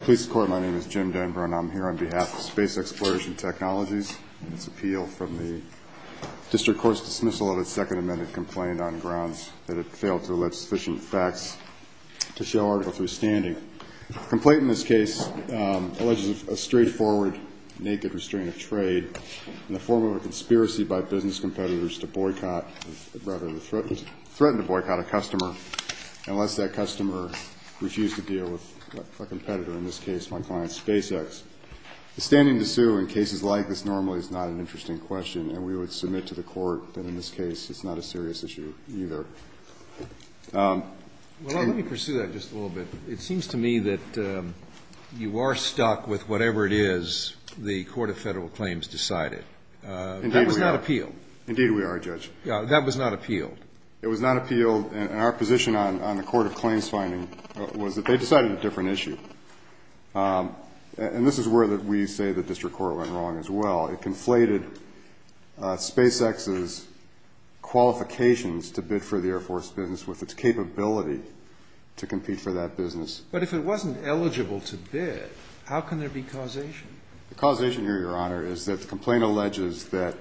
Police Corps, my name is Jim Denbrun. I'm here on behalf of Space Exploration Technologies and its appeal from the District Court's dismissal of its Second Amendment complaint on grounds that it failed to elicit sufficient facts to show our understanding. The complaint in this case alleges a straightforward, naked restraint of trade in the form of a conspiracy by business competitors to boycott, rather, threatened to boycott a customer unless that customer refused to deal with a competitor, in this case my client SpaceX. Standing to sue in cases like this normally is not an interesting question, and we would submit to the Court that in this case it's not a serious issue either. Well, let me pursue that just a little bit. It seems to me that you are stuck with whatever it is the Court of Federal Claims decided. Indeed we are. That was not appeal. It was not appeal, and our position on the Court of Claims finding was that they decided a different issue. And this is where we say the District Court went wrong as well. It conflated SpaceX's qualifications to bid for the Air Force business with its capability to compete for that business. But if it wasn't eligible to bid, how can there be causation? The causation here, Your Honor, is that the complaint alleges that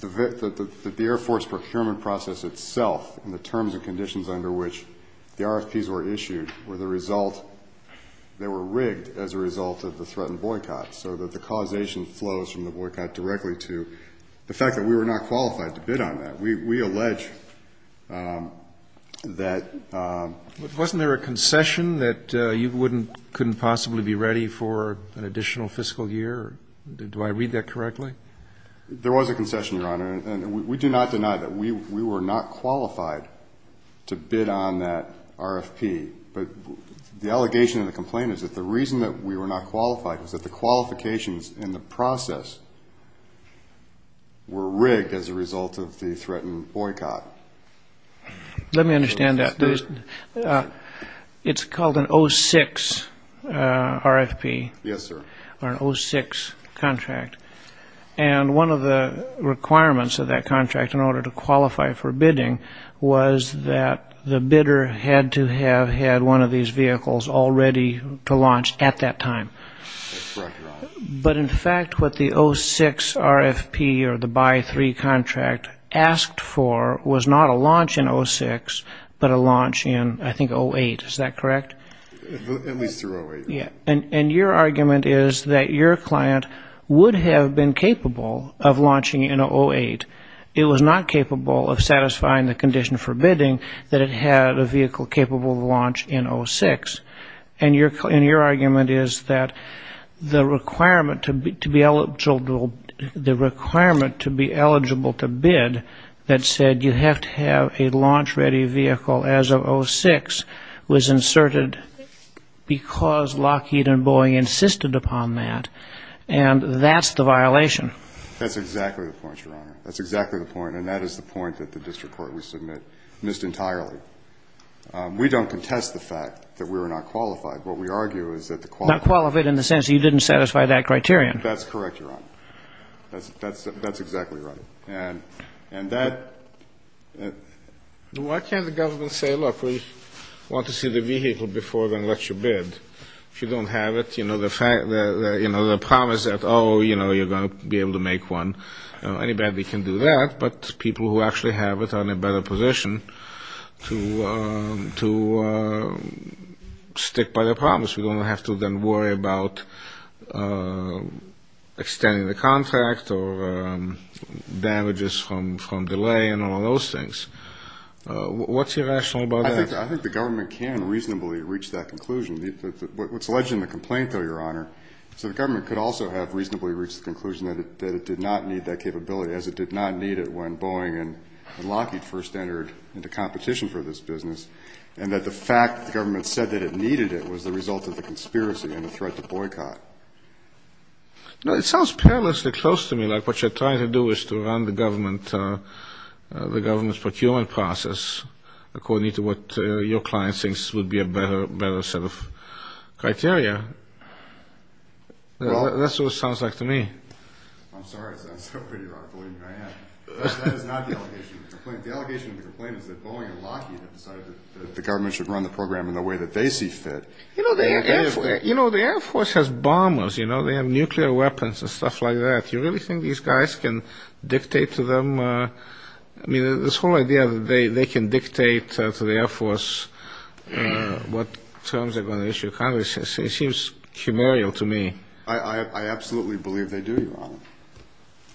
the Air Force procurement process itself and the terms and conditions under which the RFPs were issued were the result – they were rigged as a result of the threatened boycott, so that the causation flows from the boycott directly to the fact that we were not qualified to bid on that. We allege that – Wasn't there a concession that you couldn't possibly be ready for an additional fiscal year? Do I read that correctly? There was a concession, Your Honor, and we do not deny that. We were not qualified to bid on that RFP, but the allegation in the complaint is that the reason that we were not qualified was that the qualifications in the process were rigged as a result of the threatened boycott. Let me understand that. It's called an 06 RFP. Yes, sir. Or an 06 contract, and one of the requirements of that contract in order to qualify for bidding was that the bidder had to have had one of these vehicles all ready to launch at that time. That's correct, Your Honor. But, in fact, what the 06 RFP or the By-3 contract asked for was not a launch in 06, but a launch in, I think, 08. Is that correct? At least through 08. And your argument is that your client would have been capable of launching in 08. It was not capable of satisfying the condition for bidding that it had a vehicle capable of launch in 06. And your argument is that the requirement to be eligible to bid that said you have to have a launch-ready vehicle as of 06 was inserted because Lockheed and Boeing insisted upon that, and that's the violation. That's exactly the point, Your Honor. That's exactly the point, and that is the point that the district court would submit missed entirely. We don't contest the fact that we were not qualified. What we argue is that the quality... Not qualified in the sense that you didn't satisfy that criterion. That's correct, Your Honor. That's exactly right. And that... Why can't the government say, look, we want to see the vehicle before then let you bid? If you don't have it, you know, the promise that, oh, you know, you're going to be able to make one, anybody can do that, but people who actually have it are in a better position to stick by their promise. We don't have to then worry about extending the contract or damages from delay and all those things. What's your rationale about that? I think the government can reasonably reach that conclusion. What's alleged in the complaint, though, Your Honor, so the government could also have reasonably reached the conclusion that it did not need that capability, as it did not need it when Boeing and Lockheed first entered into competition for this business, and that the fact that the government said that it needed it was the result of the conspiracy and the threat to boycott. No, it sounds perilously close to me, like what you're trying to do is to run the government's procurement process, according to what your client thinks would be a better set of criteria. That's what it sounds like to me. I'm sorry. It sounds so pretty wrong. Believe me, I am. That is not the allegation in the complaint. The allegation in the complaint is that Boeing and Lockheed have decided that the government should run the program in the way that they see fit. You know, the Air Force has bombers, you know. They have nuclear weapons and stuff like that. Do you really think these guys can dictate to them? I mean, this whole idea that they can dictate to the Air Force what terms they're going to issue to Congress, it seems humorial to me. I absolutely believe they do, Your Honor.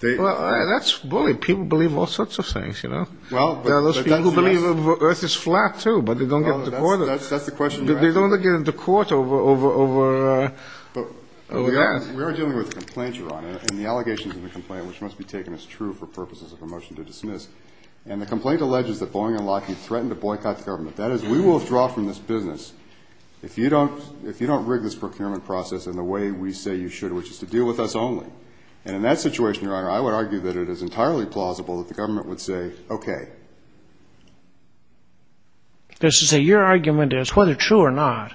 Well, that's bullying. People believe all sorts of things, you know. There are those people who believe the earth is flat, too, but they don't get into court. That's the question you're asking. They don't get into court over that. We are dealing with a complaint, Your Honor, and the allegations in the complaint, which must be taken as true for purposes of a motion to dismiss. And the complaint alleges that Boeing and Lockheed threatened to boycott the government. That is, we will withdraw from this business if you don't rig this procurement process in the way we say you should, which is to deal with us only. And in that situation, Your Honor, I would argue that it is entirely plausible that the government would say, okay. Your argument is, whether true or not,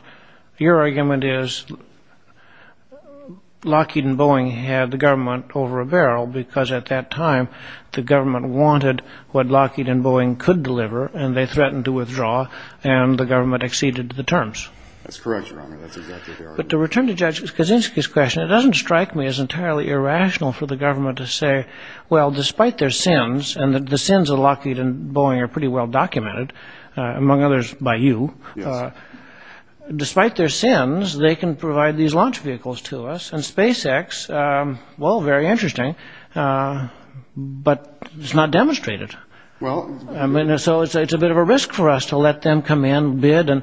your argument is Lockheed and Boeing had the government over a barrel because at that time the government wanted what Lockheed and Boeing could deliver, and they threatened to withdraw, and the government exceeded the terms. That's correct, Your Honor. That's exactly the argument. But to return to Judge Kaczynski's question, it doesn't strike me as entirely irrational for the government to say, well, despite their sins, and the sins of Lockheed and Boeing are pretty well documented, among others by you. Yes. Despite their sins, they can provide these launch vehicles to us, and SpaceX, well, very interesting, but it's not demonstrated. Well. So it's a bit of a risk for us to let them come in, bid, and,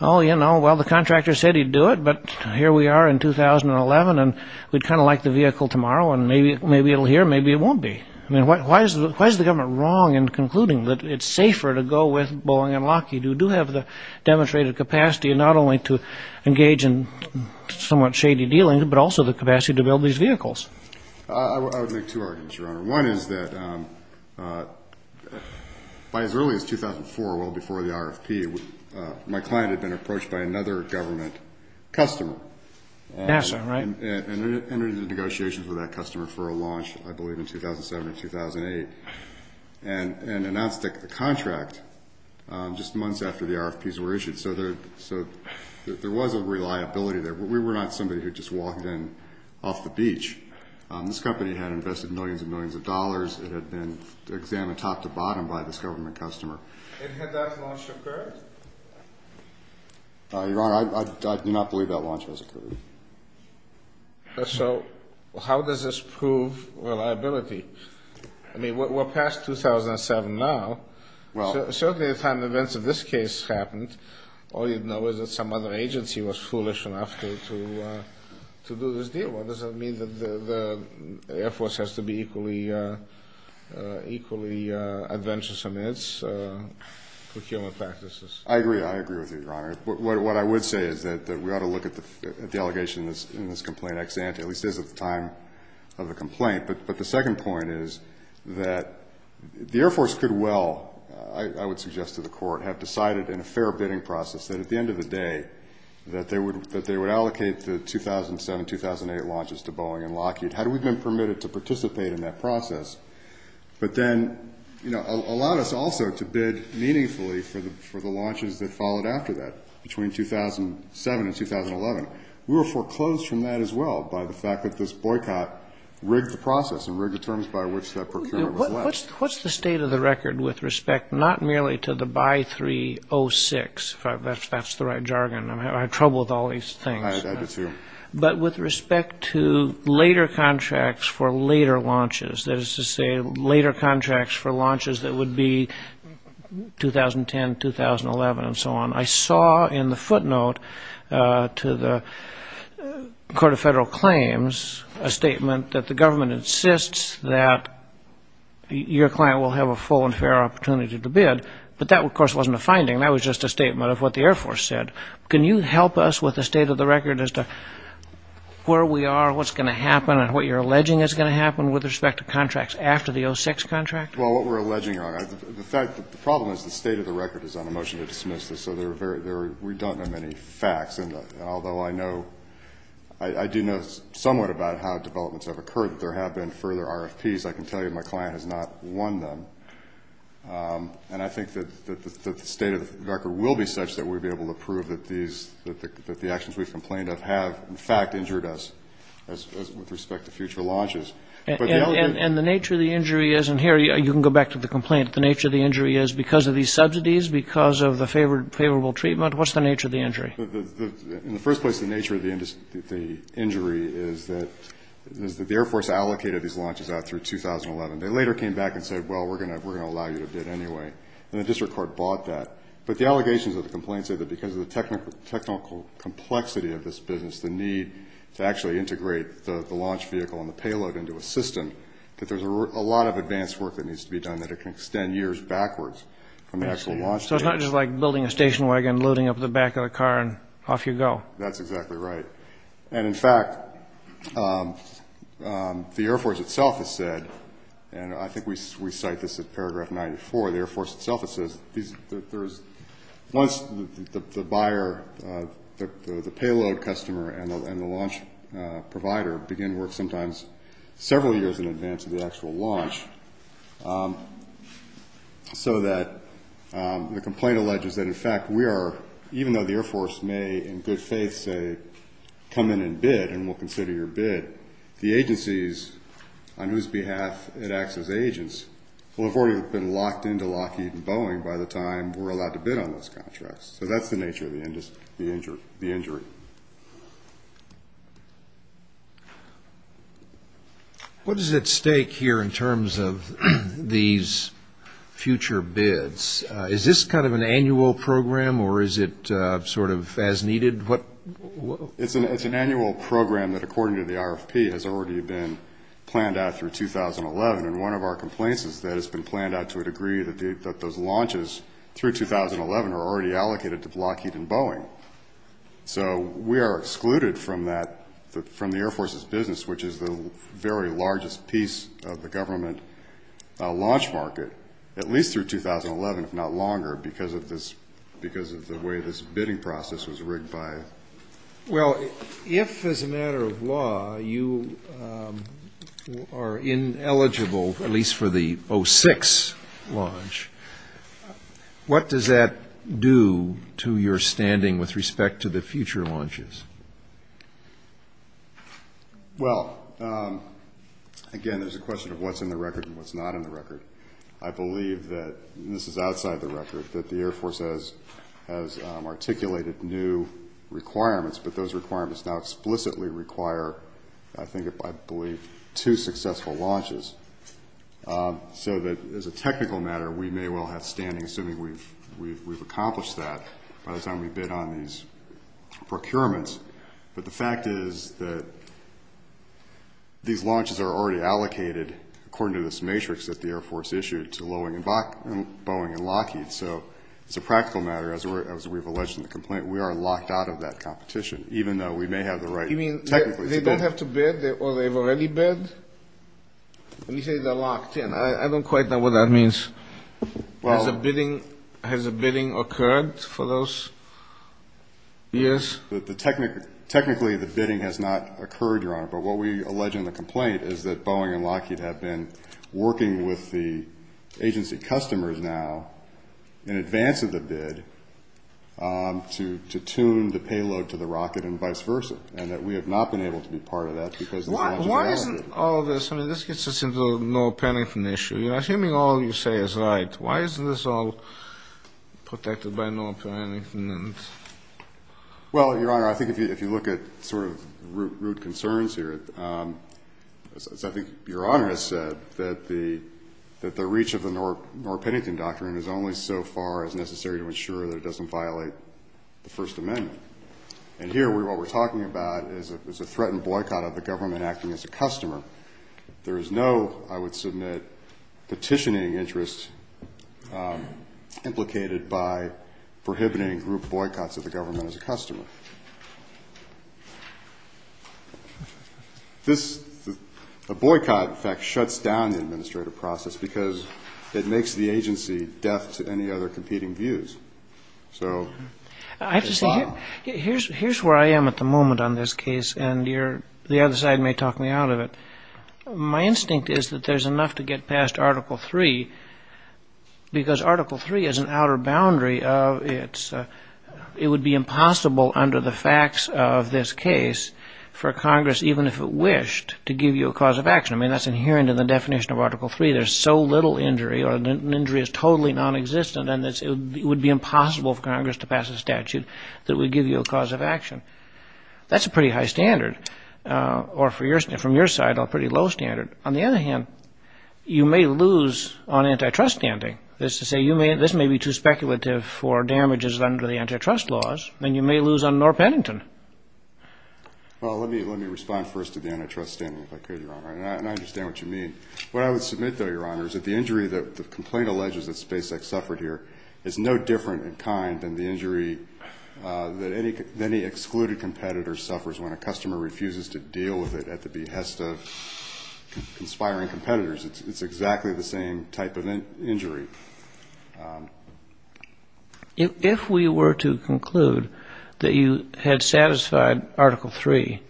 oh, you know, well, the contractor said he'd do it, but here we are in 2011, and we'd kind of like the vehicle tomorrow, and maybe it'll here, maybe it won't be. I mean, why is the government wrong in concluding that it's safer to go with Boeing and Lockheed, who do have the demonstrated capacity not only to engage in somewhat shady dealing, but also the capacity to build these vehicles? I would make two arguments, Your Honor. One is that by as early as 2004, well before the RFP, my client had been approached by another government customer. NASA, right? And entered into negotiations with that customer for a launch, I believe, in 2007 or 2008, and announced the contract just months after the RFPs were issued. So there was a reliability there. We were not somebody who just walked in off the beach. This company had invested millions and millions of dollars. It had been examined top to bottom by this government customer. And had that launch occurred? Your Honor, I do not believe that launch was occurred. So how does this prove reliability? I mean, we're past 2007 now. Well. Certainly at the time the events of this case happened, all you'd know is that some other agency was foolish enough to do this deal. Well, does that mean that the Air Force has to be equally adventurous amidst procurement practices? I agree. I agree with you, Your Honor. What I would say is that we ought to look at the allegation in this complaint ex ante, at least as of the time of the complaint. But the second point is that the Air Force could well, I would suggest to the Court, have decided in a fair bidding process that at the end of the day, that they would allocate the 2007-2008 launches to Boeing and Lockheed, had we been permitted to participate in that process, but then allowed us also to bid meaningfully for the launches that followed after that, between 2007 and 2011. We were foreclosed from that as well by the fact that this boycott rigged the process and rigged the terms by which that procurement was left. What's the state of the record with respect not merely to the BY-306, if that's the right jargon? I have trouble with all these things. I do too. But with respect to later contracts for later launches, that is to say later contracts for launches that would be 2010, 2011, and so on, I saw in the footnote to the Court of Federal Claims a statement that the government insists that your client will have a full and fair opportunity to bid. But that, of course, wasn't a finding. That was just a statement of what the Air Force said. Can you help us with the state of the record as to where we are, what's going to happen, and what you're alleging is going to happen with respect to contracts after the 06 contract? Well, what we're alleging, the problem is the state of the record is on a motion to dismiss this, so we don't know many facts. And although I do know somewhat about how developments have occurred, that there have been further RFPs, I can tell you my client has not won them. And I think that the state of the record will be such that we'll be able to prove that the actions we've complained of have, in fact, injured us with respect to future launches. And the nature of the injury is, and here you can go back to the complaint, the nature of the injury is because of these subsidies, because of the favorable treatment, what's the nature of the injury? In the first place, the nature of the injury is that the Air Force allocated these launches out through 2011. They later came back and said, well, we're going to allow you to bid anyway. And the district court bought that. But the allegations of the complaint say that because of the technical complexity of this business, the need to actually integrate the launch vehicle and the payload into a system, that there's a lot of advanced work that needs to be done that it can extend years backwards. So it's not just like building a station wagon, loading up the back of the car, and off you go. That's exactly right. And, in fact, the Air Force itself has said, and I think we cite this at paragraph 94, the Air Force itself has said that once the buyer, the payload customer, and the launch provider begin work sometimes several years in advance of the actual launch, so that the complaint alleges that, in fact, we are, even though the Air Force may, in good faith, say come in and bid and we'll consider your bid, the agencies on whose behalf it acts as agents will have already been locked into Lockheed and Boeing by the time we're allowed to bid on those contracts. So that's the nature of the injury. What is at stake here in terms of these future bids? Is this kind of an annual program, or is it sort of as needed? It's an annual program that, according to the RFP, has already been planned out through 2011. And one of our complaints is that it's been planned out to a degree that those launches through 2011 are already allocated to Lockheed and Boeing. So we are excluded from the Air Force's business, which is the very largest piece of the government launch market, at least through 2011, if not longer, because of the way this bidding process was rigged by. Well, if, as a matter of law, you are ineligible, at least for the 06 launch, what does that do to your standing with respect to the future launches? Well, again, there's a question of what's in the record and what's not in the record. I believe that this is outside the record, that the Air Force has articulated new requirements, but those requirements now explicitly require, I believe, two successful launches. So that as a technical matter, we may well have standing, assuming we've accomplished that by the time we bid on these procurements. But the fact is that these launches are already allocated, according to this matrix that the Air Force issued, to Boeing and Lockheed. So it's a practical matter, as we've alleged in the complaint, we are locked out of that competition, even though we may have the right technically to bid. You mean they don't have to bid or they've already bid? Let me say they're locked in. I don't quite know what that means. Has a bidding occurred for those years? Technically, the bidding has not occurred, Your Honor, but what we allege in the complaint is that Boeing and Lockheed have been working with the agency customers now, in advance of the bid, to tune the payload to the rocket and vice versa, and that we have not been able to be part of that because the launch is allocated. Why isn't all this, I mean, this gets us into the no penitent issue. You're assuming all you say is right. Why isn't this all protected by no penitent? Well, Your Honor, I think if you look at sort of root concerns here, I think Your Honor has said that the reach of the no penitent doctrine is only so far as necessary to ensure that it doesn't violate the First Amendment. And here, what we're talking about is a threatened boycott of the government acting as a customer. There is no, I would submit, petitioning interest implicated by prohibiting group boycotts of the government as a customer. This boycott, in fact, shuts down the administrative process because it makes the agency deaf to any other competing views. I have to say, here's where I am at the moment on this case, and the other side may talk me out of it. My instinct is that there's enough to get past Article III because Article III is an outer boundary. It would be impossible under the facts of this case for Congress, even if it wished, to give you a cause of action. I mean, that's inherent in the definition of Article III. There's so little injury, or an injury is totally nonexistent, and it would be impossible for Congress to pass a statute that would give you a cause of action. That's a pretty high standard, or from your side, a pretty low standard. On the other hand, you may lose on antitrust standing. That is to say, this may be too speculative for damages under the antitrust laws, and you may lose on no penitent. Well, let me respond first to the antitrust standing, if I could, Your Honor, and I understand what you mean. What I would submit, though, Your Honor, is that the injury that the complaint alleges that SpaceX suffered here is no different in kind than the injury that any excluded competitor suffers when a customer refuses to deal with it at the behest of conspiring competitors. It's exactly the same type of injury. If we were to conclude that you had satisfied Article III,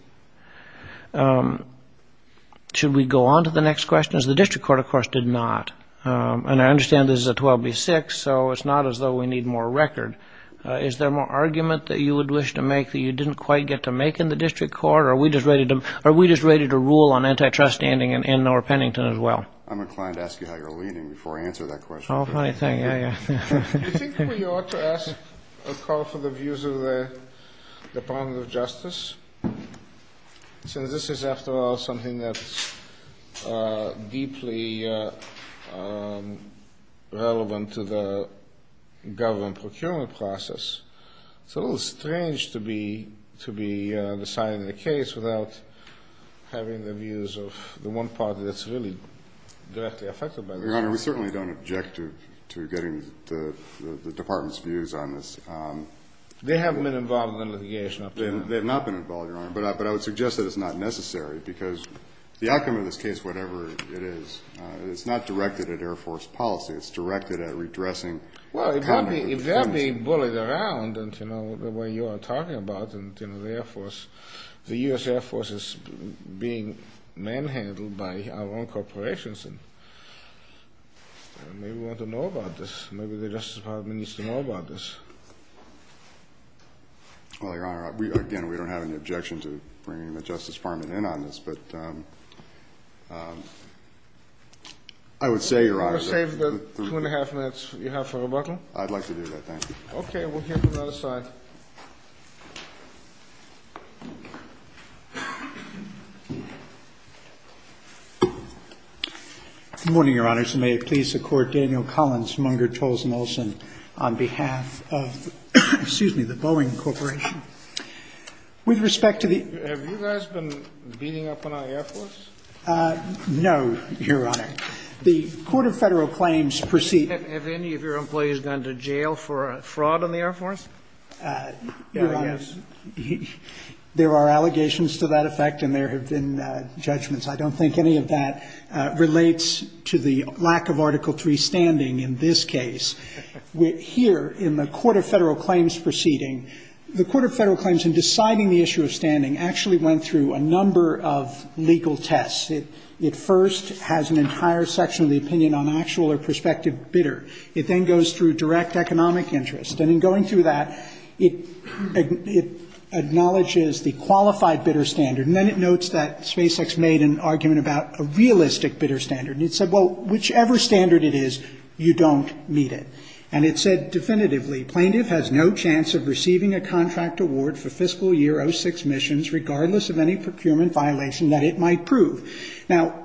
should we go on to the next questions? The district court, of course, did not, and I understand this is a 12B6, so it's not as though we need more record. Is there more argument that you would wish to make that you didn't quite get to make in the district court, or are we just ready to rule on antitrust standing and no penitent as well? I'm inclined to ask you how you're leaning before I answer that question. Oh, funny thing, yeah, yeah. I think we ought to ask a call for the views of the Department of Justice, since this is, after all, something that's deeply relevant to the government procurement process. It's a little strange to be on the side of the case without having the views of the one party that's really directly affected by this. Your Honor, we certainly don't object to getting the department's views on this. They have been involved in litigation up to now. They have not been involved, Your Honor, but I would suggest that it's not necessary, because the outcome of this case, whatever it is, it's not directed at Air Force policy. It's directed at redressing conduct with friends. Well, if they're being bullied around, and, you know, the way you are talking about it, and the Air Force, the U.S. Air Force is being manhandled by our own corporations, and maybe we ought to know about this. Maybe the Justice Department needs to know about this. Well, Your Honor, again, we don't have any objection to bringing the Justice Department in on this, but I would say, Your Honor. You want to save the two and a half minutes you have for rebuttal? I'd like to do that, thank you. Okay. We'll hear from the other side. Good morning, Your Honor. May it please the Court, Daniel Collins, Munger, Tolles, and Olson, on behalf of, excuse me, the Boeing Corporation. With respect to the ---- Have you guys been beating up on our Air Force? No, Your Honor. The Court of Federal Claims proceeding ---- Have any of your employees gone to jail for fraud on the Air Force? Your Honor, there are allegations to that effect, and there have been judgments. I don't think any of that relates to the lack of Article III standing in this case. Here, in the Court of Federal Claims proceeding, the Court of Federal Claims in deciding the issue of standing actually went through a number of legal tests. It first has an entire section of the opinion on actual or prospective bidder. It then goes through direct economic interest. And in going through that, it acknowledges the qualified bidder standard, and then it notes that SpaceX made an argument about a realistic bidder standard. And it said, well, whichever standard it is, you don't meet it. And it said definitively, Plaintiff has no chance of receiving a contract award for fiscal year 06 missions, regardless of any procurement violation that it might prove. Now,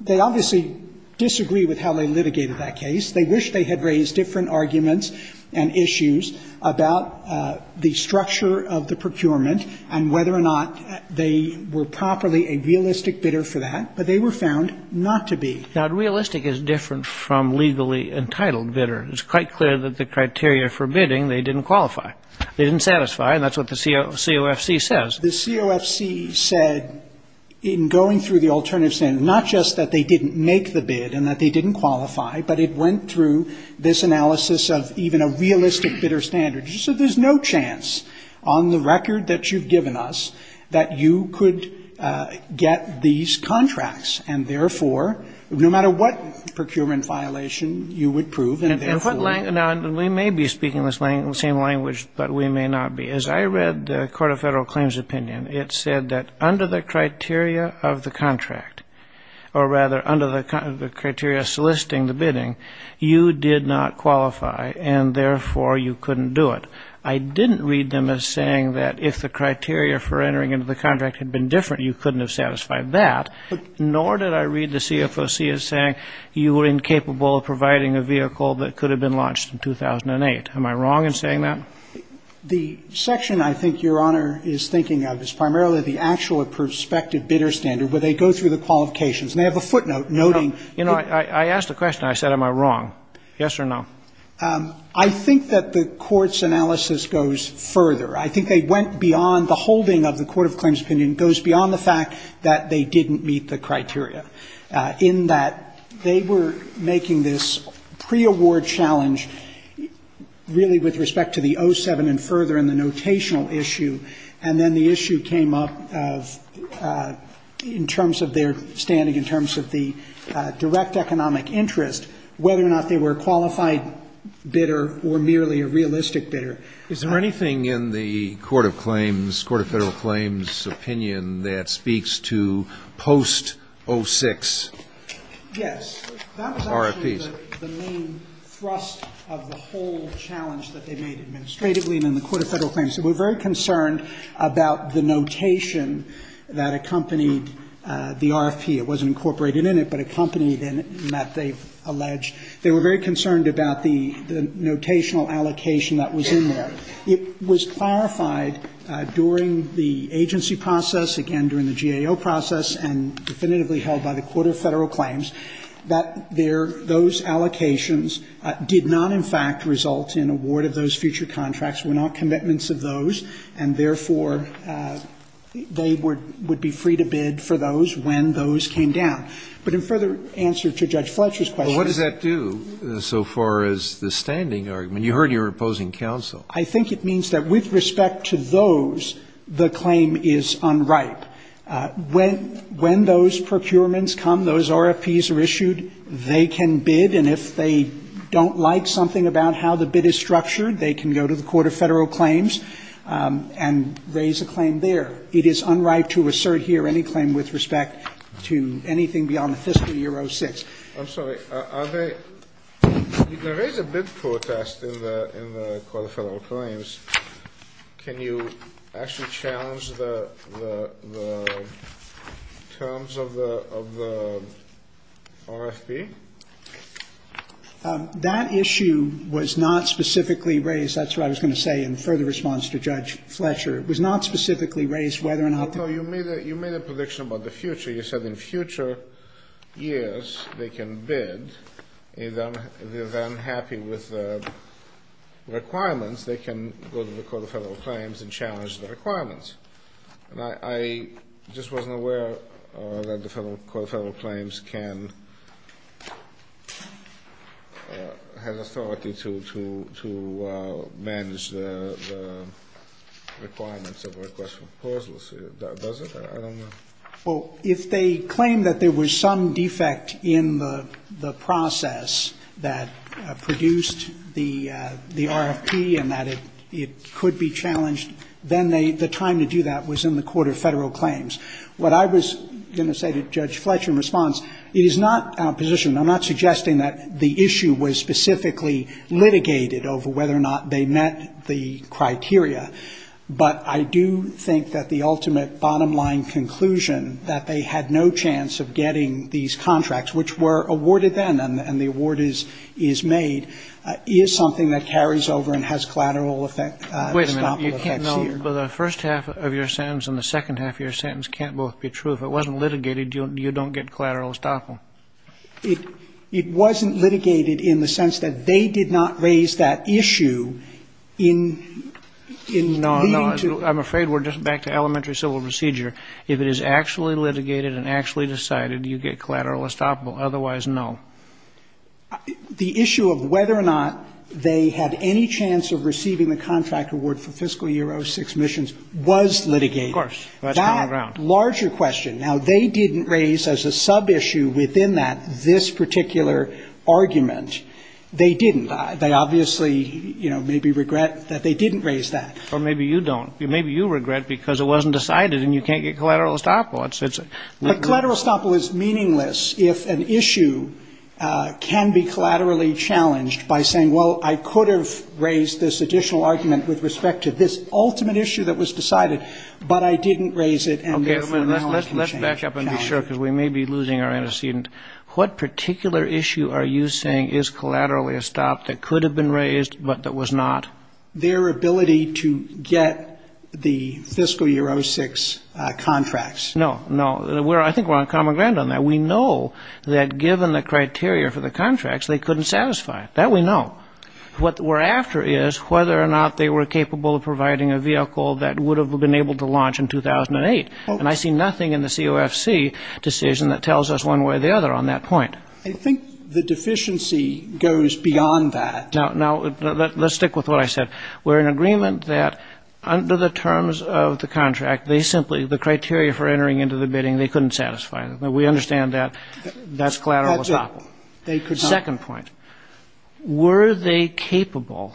they obviously disagree with how they litigated that case. They wish they had raised different arguments and issues about the structure of the procurement and whether or not they were properly a realistic bidder for that, but they were found not to be. Now, realistic is different from legally entitled bidder. It's quite clear that the criteria for bidding, they didn't qualify. They didn't satisfy, and that's what the COFC says. The COFC said, in going through the alternative standard, not just that they didn't make the bid and that they didn't qualify, but it went through this analysis of even a realistic bidder standard. So there's no chance on the record that you've given us that you could get these contracts. And, therefore, no matter what procurement violation you would prove. And therefore we may be speaking the same language, but we may not be. As I read the Court of Federal Claims opinion, it said that under the criteria of the contract, or rather under the criteria soliciting the bidding, you did not qualify, and, therefore, you couldn't do it. I didn't read them as saying that if the criteria for entering into the contract had been different, you couldn't have satisfied that, nor did I read the COFC as saying you were incapable of providing a vehicle that could have been launched in 2008. Am I wrong in saying that? The section I think Your Honor is thinking of is primarily the actual prospective bidder standard where they go through the qualifications, and they have a footnote noting. You know, I asked a question. I said, am I wrong? Yes or no? I think that the Court's analysis goes further. I think they went beyond the holding of the Court of Claims opinion, goes beyond the fact that they didn't meet the criteria, in that they were making this pre-award challenge really with respect to the 07 and further and the notational issue. And then the issue came up of, in terms of their standing, in terms of the direct economic interest, whether or not they were a qualified bidder or merely a realistic bidder. Is there anything in the Court of Claims, Court of Federal Claims opinion that speaks to post-06 RFPs? Yes. That was actually the main thrust of the whole challenge that they made administratively and in the Court of Federal Claims. They were very concerned about the notation that accompanied the RFP. It wasn't incorporated in it, but accompanied in it, in that they've alleged they were very concerned about the notational allocation that was in there. It was clarified during the agency process, again, during the GAO process, and definitively held by the Court of Federal Claims, that those allocations did not in fact result in award of those future contracts, were not commitments of those, and therefore they would be free to bid for those when those came down. But in further answer to Judge Fletcher's question. But what does that do so far as the standing argument? You heard your opposing counsel. I think it means that with respect to those, the claim is unripe. When those procurements come, those RFPs are issued, they can bid, and if they don't like something about how the bid is structured, they can go to the Court of Federal Claims, and there is a claim there. It is unripe to assert here any claim with respect to anything beyond the fiscal year 06. I'm sorry. Are they – there is a bid protest in the Court of Federal Claims. Can you actually challenge the terms of the RFP? That issue was not specifically raised. That's what I was going to say in further response to Judge Fletcher. It was not specifically raised whether or not the ---- No. You made a prediction about the future. You said in future years they can bid. If they're then happy with the requirements, they can go to the Court of Federal Claims and challenge the requirements. And I just wasn't aware that the Court of Federal Claims can – has authority to manage the requirements of request for proposals. Does it? I don't know. Well, if they claim that there was some defect in the process that produced the RFP and that it could be challenged, then they – the time to challenge the RFP and to do that was in the Court of Federal Claims. What I was going to say to Judge Fletcher in response, it is not our position – I'm not suggesting that the issue was specifically litigated over whether or not they met the criteria. But I do think that the ultimate bottom-line conclusion, that they had no chance of getting these contracts, which were awarded then and the award is made, is something that carries over and has collateral effect. Wait a minute. You can't know. The first half of your sentence and the second half of your sentence can't both be true. If it wasn't litigated, you don't get collateral estoppel. It wasn't litigated in the sense that they did not raise that issue in leading to – No, no. I'm afraid we're just back to elementary civil procedure. If it is actually litigated and actually decided, you get collateral estoppel. Otherwise, no. The issue of whether or not they had any chance of receiving the contract award for fiscal year 06 missions was litigated. Of course. That's common ground. That larger question. Now, they didn't raise as a sub-issue within that this particular argument. They didn't. They obviously, you know, maybe regret that they didn't raise that. Or maybe you don't. Maybe you regret because it wasn't decided and you can't get collateral estoppel. But collateral estoppel is meaningless if an issue can be collaterally challenged by saying, well, I could have raised this additional argument with respect to this ultimate issue that was decided, but I didn't raise it. Okay. Let's back up and be sure because we may be losing our antecedent. What particular issue are you saying is collateral estoppel that could have been raised but that was not? Their ability to get the fiscal year 06 contracts. No, no. I think we're on common ground on that. We know that given the criteria for the contracts, they couldn't satisfy it. That we know. What we're after is whether or not they were capable of providing a vehicle that would have been able to launch in 2008. And I see nothing in the COFC decision that tells us one way or the other on that point. I think the deficiency goes beyond that. Now, let's stick with what I said. We're in agreement that under the terms of the contract, they simply, the criteria for entering into the bidding, they couldn't satisfy it. We understand that that's collateral estoppel. Second point, were they capable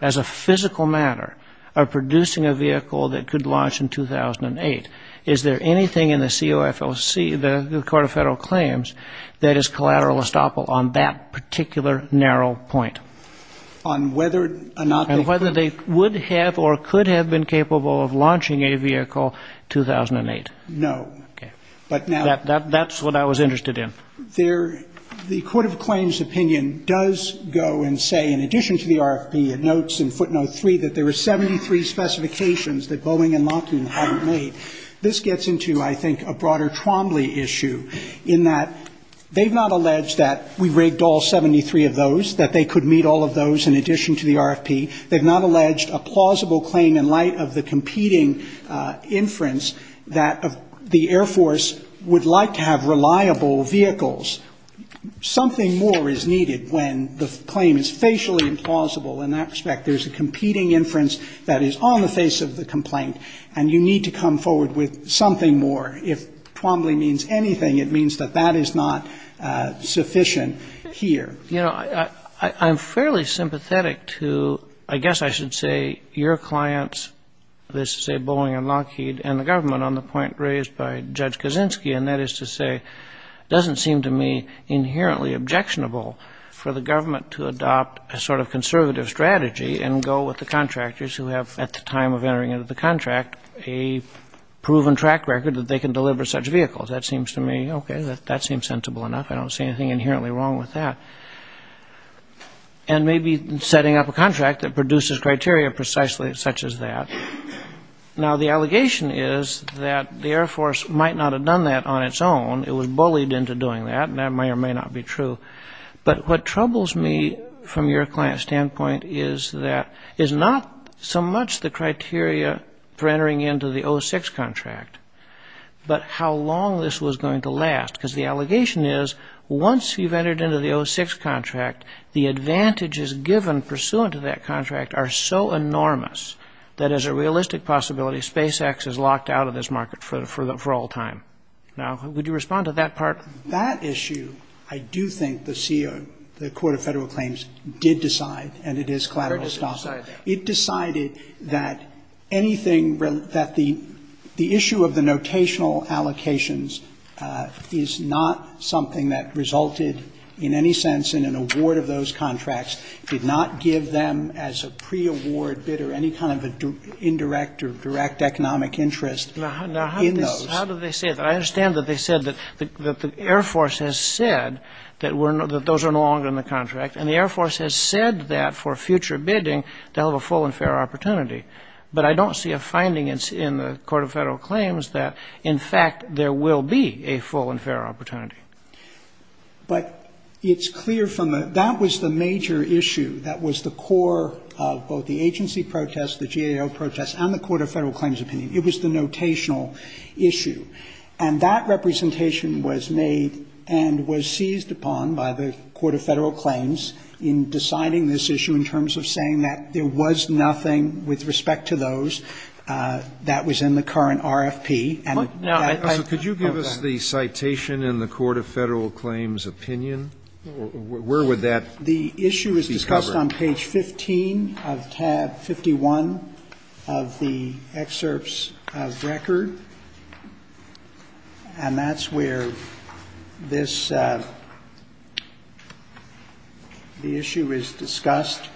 as a physical matter of producing a vehicle that could launch in 2008? Is there anything in the COFLC, the Court of Federal Claims, that is collateral estoppel on that particular narrow point? On whether or not they could. And whether they would have or could have been capable of launching a vehicle in 2008. No. Okay. That's what I was interested in. The Court of Claims opinion does go and say, in addition to the RFP, it notes in footnote 3 that there were 73 specifications that Boeing and Lockheed had made. This gets into, I think, a broader Trombley issue in that they've not alleged that we rigged all 73 of those, that they could meet all of those in addition to the RFP. They've not alleged a plausible claim in light of the competing inference that the Air Force would like to have reliable vehicles. Something more is needed when the claim is facially implausible in that respect. There's a competing inference that is on the face of the complaint. And you need to come forward with something more. If Trombley means anything, it means that that is not sufficient here. You know, I'm fairly sympathetic to, I guess I should say, your clients, that is to say Boeing and Lockheed, and the government on the point raised by Judge Kaczynski, and that is to say it doesn't seem to me inherently objectionable for the government to adopt a sort of conservative strategy and go with the contractors who have, at the time of entering into the contract, a proven track record that they can deliver such vehicles. That seems to me, okay, that seems sensible enough. I don't see anything inherently wrong with that. And maybe setting up a contract that produces criteria precisely such as that. Now, the allegation is that the Air Force might not have done that on its own. It was bullied into doing that, and that may or may not be true. But what troubles me from your client's standpoint is that it's not so much the criteria for entering into the 06 contract, but how long this was going to last. Because the allegation is once you've entered into the 06 contract, the advantages given pursuant to that contract are so enormous that as a realistic possibility, SpaceX is locked out of this market for all time. Now, would you respond to that part? That issue, I do think the CO, the Court of Federal Claims did decide, and it is collateral stock. It decided that anything that the issue of the notational allocations is not something that resulted in any sense in an award of those contracts, did not give them as a pre-award bid or any kind of indirect or direct economic interest in those. Now, how do they say that? I understand that they said that the Air Force has said that those are no longer in the contract. And the Air Force has said that for future bidding, they'll have a full and fair opportunity. But I don't see a finding in the Court of Federal Claims that, in fact, there will be a full and fair opportunity. But it's clear from the – that was the major issue. That was the core of both the agency protest, the GAO protest, and the Court of Federal Claims opinion. It was the notational issue. And that representation was made and was seized upon by the Court of Federal Claims in deciding this issue in terms of saying that there was nothing with respect to those that was in the current RFP. And that – Now, could you give us the citation in the Court of Federal Claims opinion? Where would that be covered? The issue is discussed on page 15 of tab 51 of the excerpts of record. And that's where this – the issue is discussed.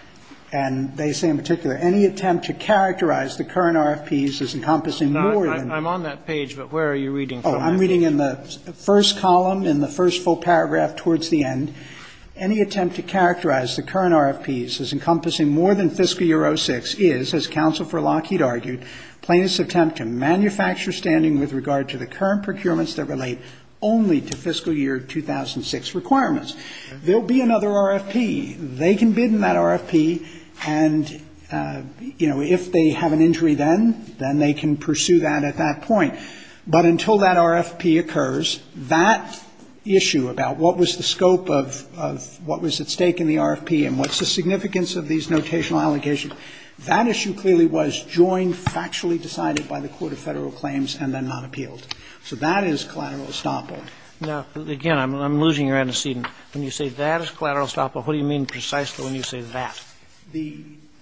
And they say in particular, Any attempt to characterize the current RFPs as encompassing more than I'm on that page, but where are you reading from? Oh, I'm reading in the first column, in the first full paragraph towards the end. Any attempt to characterize the current RFPs as encompassing more than fiscal year 2006 is, as Counsel for Lockheed argued, plaintiff's attempt to manufacture standing with regard to the current procurements that relate only to fiscal year 2006 requirements. There will be another RFP. They can bid in that RFP and, you know, if they have an injury then, then they can pursue that at that point. But until that RFP occurs, that issue about what was the scope of what was at stake in the RFP and what's the significance of these notational allocations, that issue clearly was joined factually decided by the Court of Federal Claims and then not appealed. So that is collateral estoppel. Now, again, I'm losing your antecedent. When you say that is collateral estoppel, what do you mean precisely when you say that? The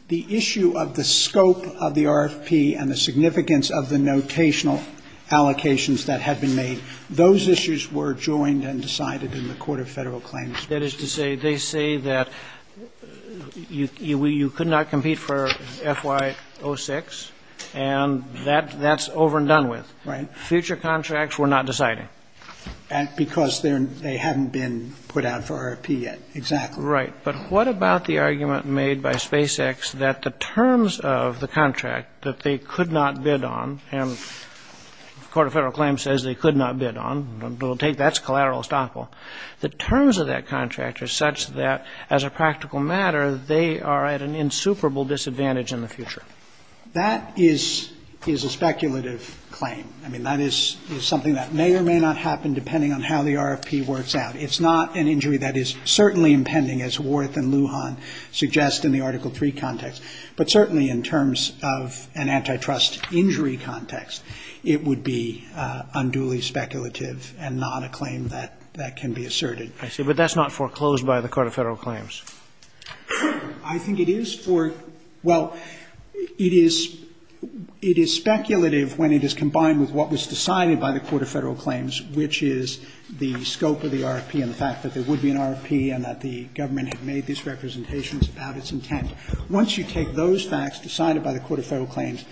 issue of the scope of the RFP and the significance of the notational allocations that had been made, those issues were joined and decided in the Court of Federal Claims. That is to say, they say that you could not compete for FY06 and that's over and done with. Right. Future contracts were not decided. Because they haven't been put out for RFP yet. Exactly. Right. But what about the argument made by SpaceX that the terms of the contract that they could not bid on, and the Court of Federal Claims says they could not bid on, that's collateral estoppel. The terms of that contract are such that, as a practical matter, they are at an insuperable disadvantage in the future. That is a speculative claim. I mean, that is something that may or may not happen depending on how the RFP works out. It's not an injury that is certainly impending, as Worth and Lujan suggest in the Article III context. But certainly in terms of an antitrust injury context, it would be unduly speculative and not a claim that can be asserted. I see. But that's not foreclosed by the Court of Federal Claims. I think it is for – well, it is speculative when it is combined with what was decided by the Court of Federal Claims, which is the scope of the RFP and the fact that there would be an RFP and that the government had made these representations about its intent. Once you take those facts decided by the Court of Federal Claims,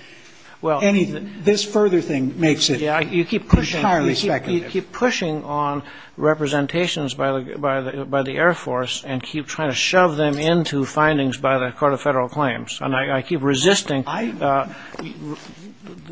this further thing makes it entirely speculative. I keep pushing on representations by the Air Force and keep trying to shove them into findings by the Court of Federal Claims. And I keep resisting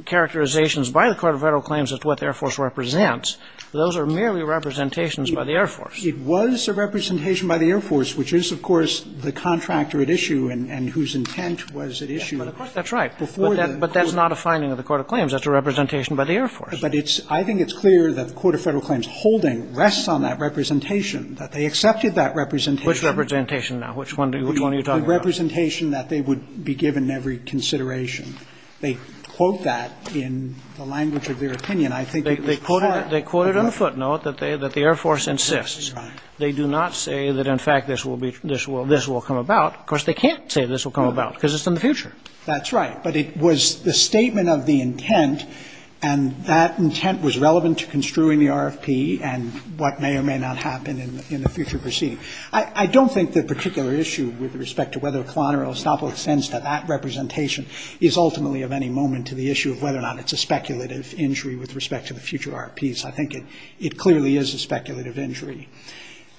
characterizations by the Court of Federal Claims as to what the Air Force represents. Those are merely representations by the Air Force. It was a representation by the Air Force, which is, of course, the contractor at issue and whose intent was at issue before the Court of Federal Claims. That's right. But that's not a finding of the Court of Claims. That's a representation by the Air Force. But I think it's clear that the Court of Federal Claims holding rests on that representation, that they accepted that representation. Which representation now? Which one are you talking about? The representation that they would be given every consideration. They quote that in the language of their opinion. They quote it on a footnote that the Air Force insists. They do not say that, in fact, this will come about. Of course, they can't say this will come about because it's in the future. That's right. But it was the statement of the intent, and that intent was relevant to construing the RFP and what may or may not happen in the future proceeding. I don't think the particular issue with respect to whether a colonel or an ostopo extends to that representation is ultimately of any moment to the issue of whether or not it's a speculative injury with respect to the future RFPs. I think it clearly is a speculative injury.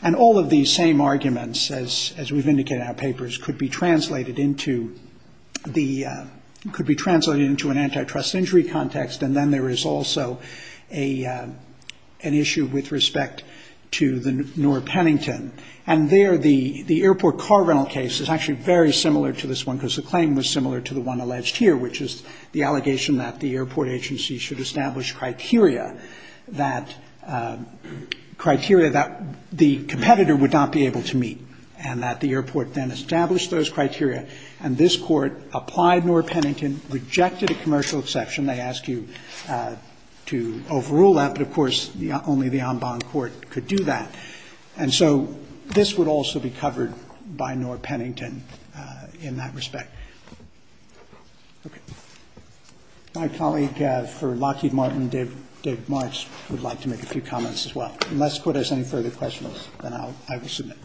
And all of these same arguments, as we've indicated in our papers, could be translated into an antitrust injury context, and then there is also an issue with respect to the Noor-Pennington. And there, the airport car rental case is actually very similar to this one because the claim was similar to the one alleged here, which is the allegation that the airport agency should establish criteria that the competitor would not be able to apply Noor-Pennington, rejected a commercial exception. They ask you to overrule that, but, of course, only the en banc court could do that. And so this would also be covered by Noor-Pennington in that respect. Okay. My colleague for Lockheed Martin, David Marks, would like to make a few comments as well. Unless the Court has any further questions, then I will submit.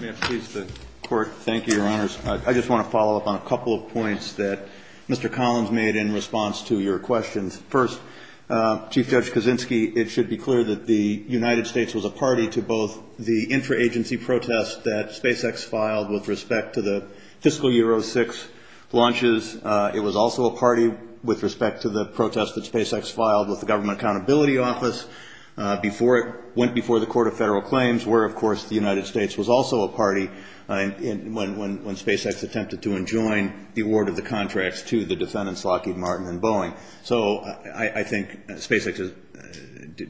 May I please, the Court? Thank you, Your Honors. I just want to follow up on a couple of points that Mr. Collins made in response to your questions. First, Chief Judge Kaczynski, it should be clear that the United States was a party to both the intra-agency protest that SpaceX filed with respect to the fiscal year 06 launches. It was also a party with respect to the protest that SpaceX filed with the Government Accountability Office before it went before the Court of Federal Claims, where, of course, the United States was also a party when SpaceX attempted to enjoin the award of the contracts to the defendants, Lockheed Martin and Boeing. So I think SpaceX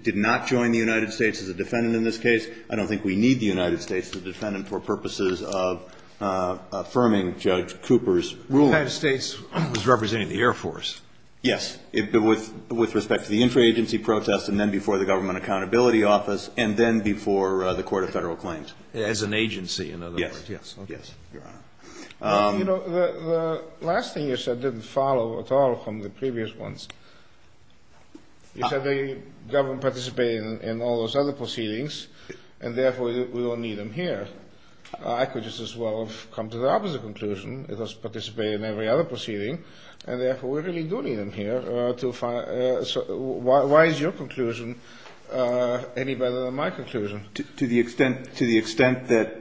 did not join the United States as a defendant in this case. I don't think we need the United States as a defendant for purposes of affirming Judge Cooper's ruling. The United States was representing the Air Force. Yes. With respect to the intra-agency protest and then before the Government Accountability Office and then before the Court of Federal Claims. As an agency, in other words. Yes. Yes, Your Honor. You know, the last thing you said didn't follow at all from the previous ones. You said the government participated in all those other proceedings and therefore we don't need them here. I could just as well have come to the opposite conclusion. It was participating in every other proceeding and therefore we really do need them here. Why is your conclusion any better than my conclusion? To the extent that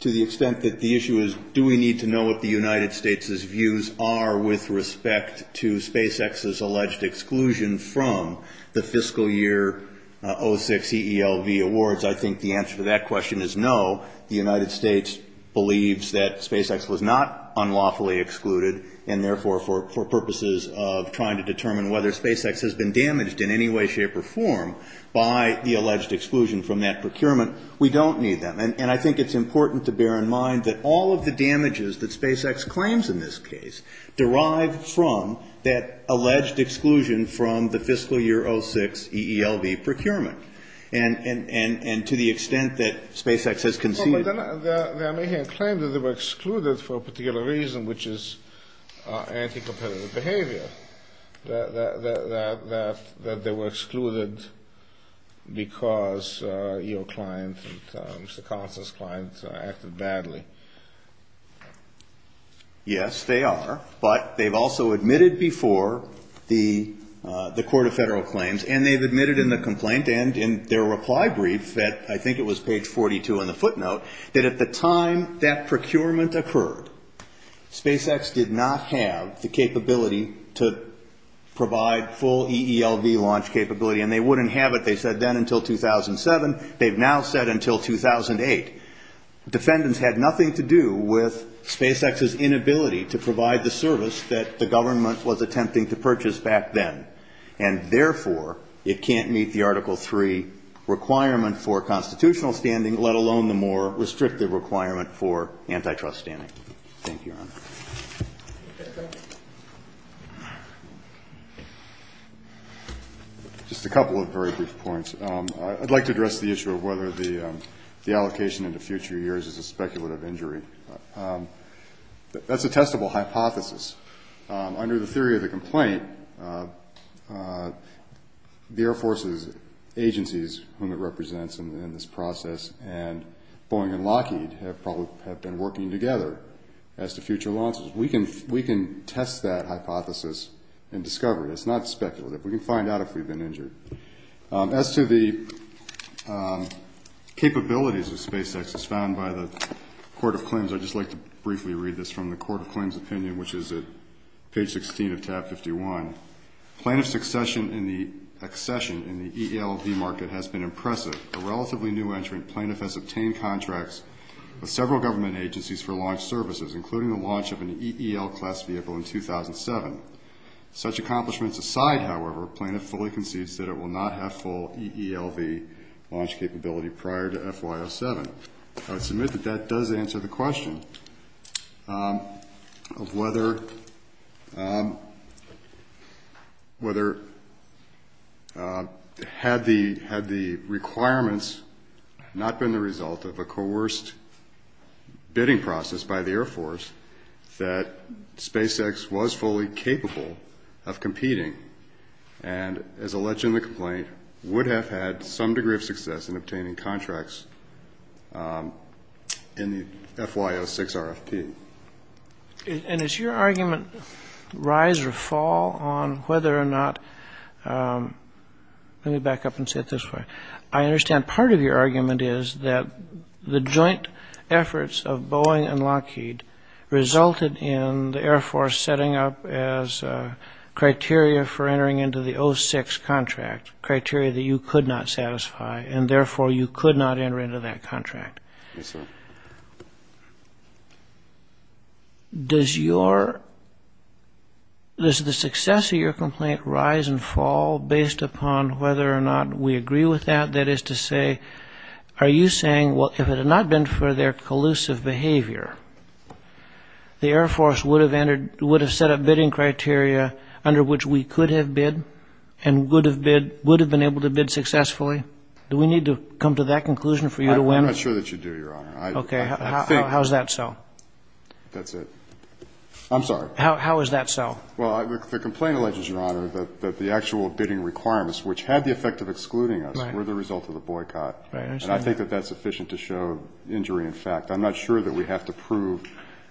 the issue is do we need to know what the United States' views are with respect to SpaceX's alleged exclusion from the fiscal year 06 EELV awards, I think the answer to that question is no. The United States believes that SpaceX was not unlawfully excluded and therefore for purposes of trying to determine whether SpaceX has been damaged in any way, shape or form by the alleged exclusion from that procurement, we don't need them. And I think it's important to bear in mind that all of the damages that SpaceX claims in this case derive from that alleged exclusion from the fiscal year 06 EELV procurement. And to the extent that SpaceX has conceded... But they're making a claim that they were excluded for a particular reason, which is anti-competitive behavior, that they were excluded because EO clients and Mr. Collins' clients acted badly. Yes, they are, but they've also admitted before the court of federal claims and they've admitted in the complaint and in their reply brief that, I think it was page 42 in the footnote, that at the time that procurement occurred, SpaceX did not have the capability to provide full EELV launch capability and they wouldn't have it, they said then, until 2007. They've now said until 2008. Defendants had nothing to do with SpaceX's inability to provide the service that the government was attempting to purchase back then. And therefore, it can't meet the Article III requirement for constitutional standing, let alone the more restrictive requirement for antitrust standing. Thank you, Your Honor. Just a couple of very brief points. I'd like to address the issue of whether the allocation into future years is a speculative injury. That's a testable hypothesis. Under the theory of the complaint, the Air Force's agencies, whom it represents in this process, and Boeing and Lockheed have probably been working together as to future launches. We can test that hypothesis and discover it. It's not speculative. We can find out if we've been injured. As to the capabilities of SpaceX, as found by the court of claims, I'd just like to briefly read this from the court of claims opinion, which is at page 16 of tab 51. Plaintiff's accession in the EELV market has been impressive. A relatively new entrant, plaintiff has obtained contracts with several government agencies for launch services, including the launch of an EEL class vehicle in 2007. Such accomplishments aside, however, plaintiff fully concedes that it will not have full EELV launch capability prior to FY07. I would submit that that does answer the question of whether, had the requirements not been the result of a coerced bidding process by the Air Force, that SpaceX was fully capable of competing, and, as alleged in the complaint, would have had some degree of success in obtaining contracts in the FY06 RFP. And is your argument rise or fall on whether or not – let me back up and say it this way. I understand part of your argument is that the joint efforts of Boeing and Lockheed resulted in the Air Force setting up as criteria for entering into the 06 contract, criteria that you could not satisfy, and therefore you could not enter into that contract. Yes, sir. Does your – does the success of your complaint rise and fall based upon whether or not we agree with that? That is to say, are you saying, well, if it had not been for their collusive behavior, the Air Force would have entered – would have set up bidding criteria under which we could have bid and would have bid – would have been able to bid successfully? Do we need to come to that conclusion for you to win? I'm not sure that you do, Your Honor. Okay. How is that so? That's it. I'm sorry. How is that so? Well, the complaint alleges, Your Honor, that the actual bidding requirements, which had the effect of excluding us, were the result of the boycott. And I think that that's sufficient to show injury in fact. I'm not sure that we have to prove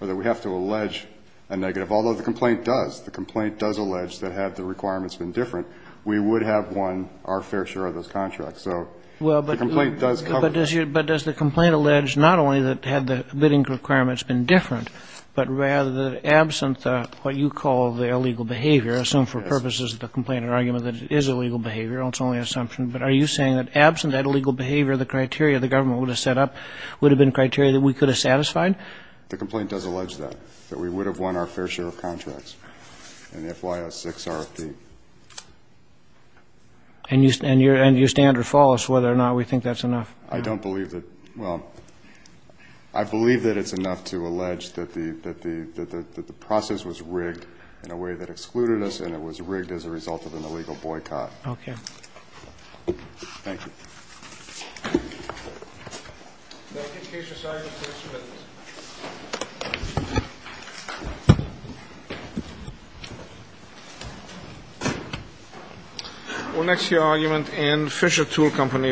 or that we have to allege a negative, although the complaint does. The complaint does allege that had the requirements been different, we would have won our fair share of those contracts. So the complaint does cover it. But does the complaint allege not only that had the bidding requirements been different, but rather that absent what you call the illegal behavior, assumed for purposes of the complaint and argument that it is illegal behavior, it's only an assumption, but are you saying that absent that illegal behavior, the criteria the government would have set up would have been criteria that we could have satisfied? The complaint does allege that, that we would have won our fair share of contracts in the FY06 RFP. And you stand or fall as to whether or not we think that's enough? I don't believe that. Well, I believe that it's enough to allege that the process was rigged in a way that excluded us and it was rigged as a result of an illegal boycott. Okay. Thank you. Thank you. Case resolved. Thank you, Mr. Chairman. We'll next hear argument in Fisher Tool Company v. Mayhew.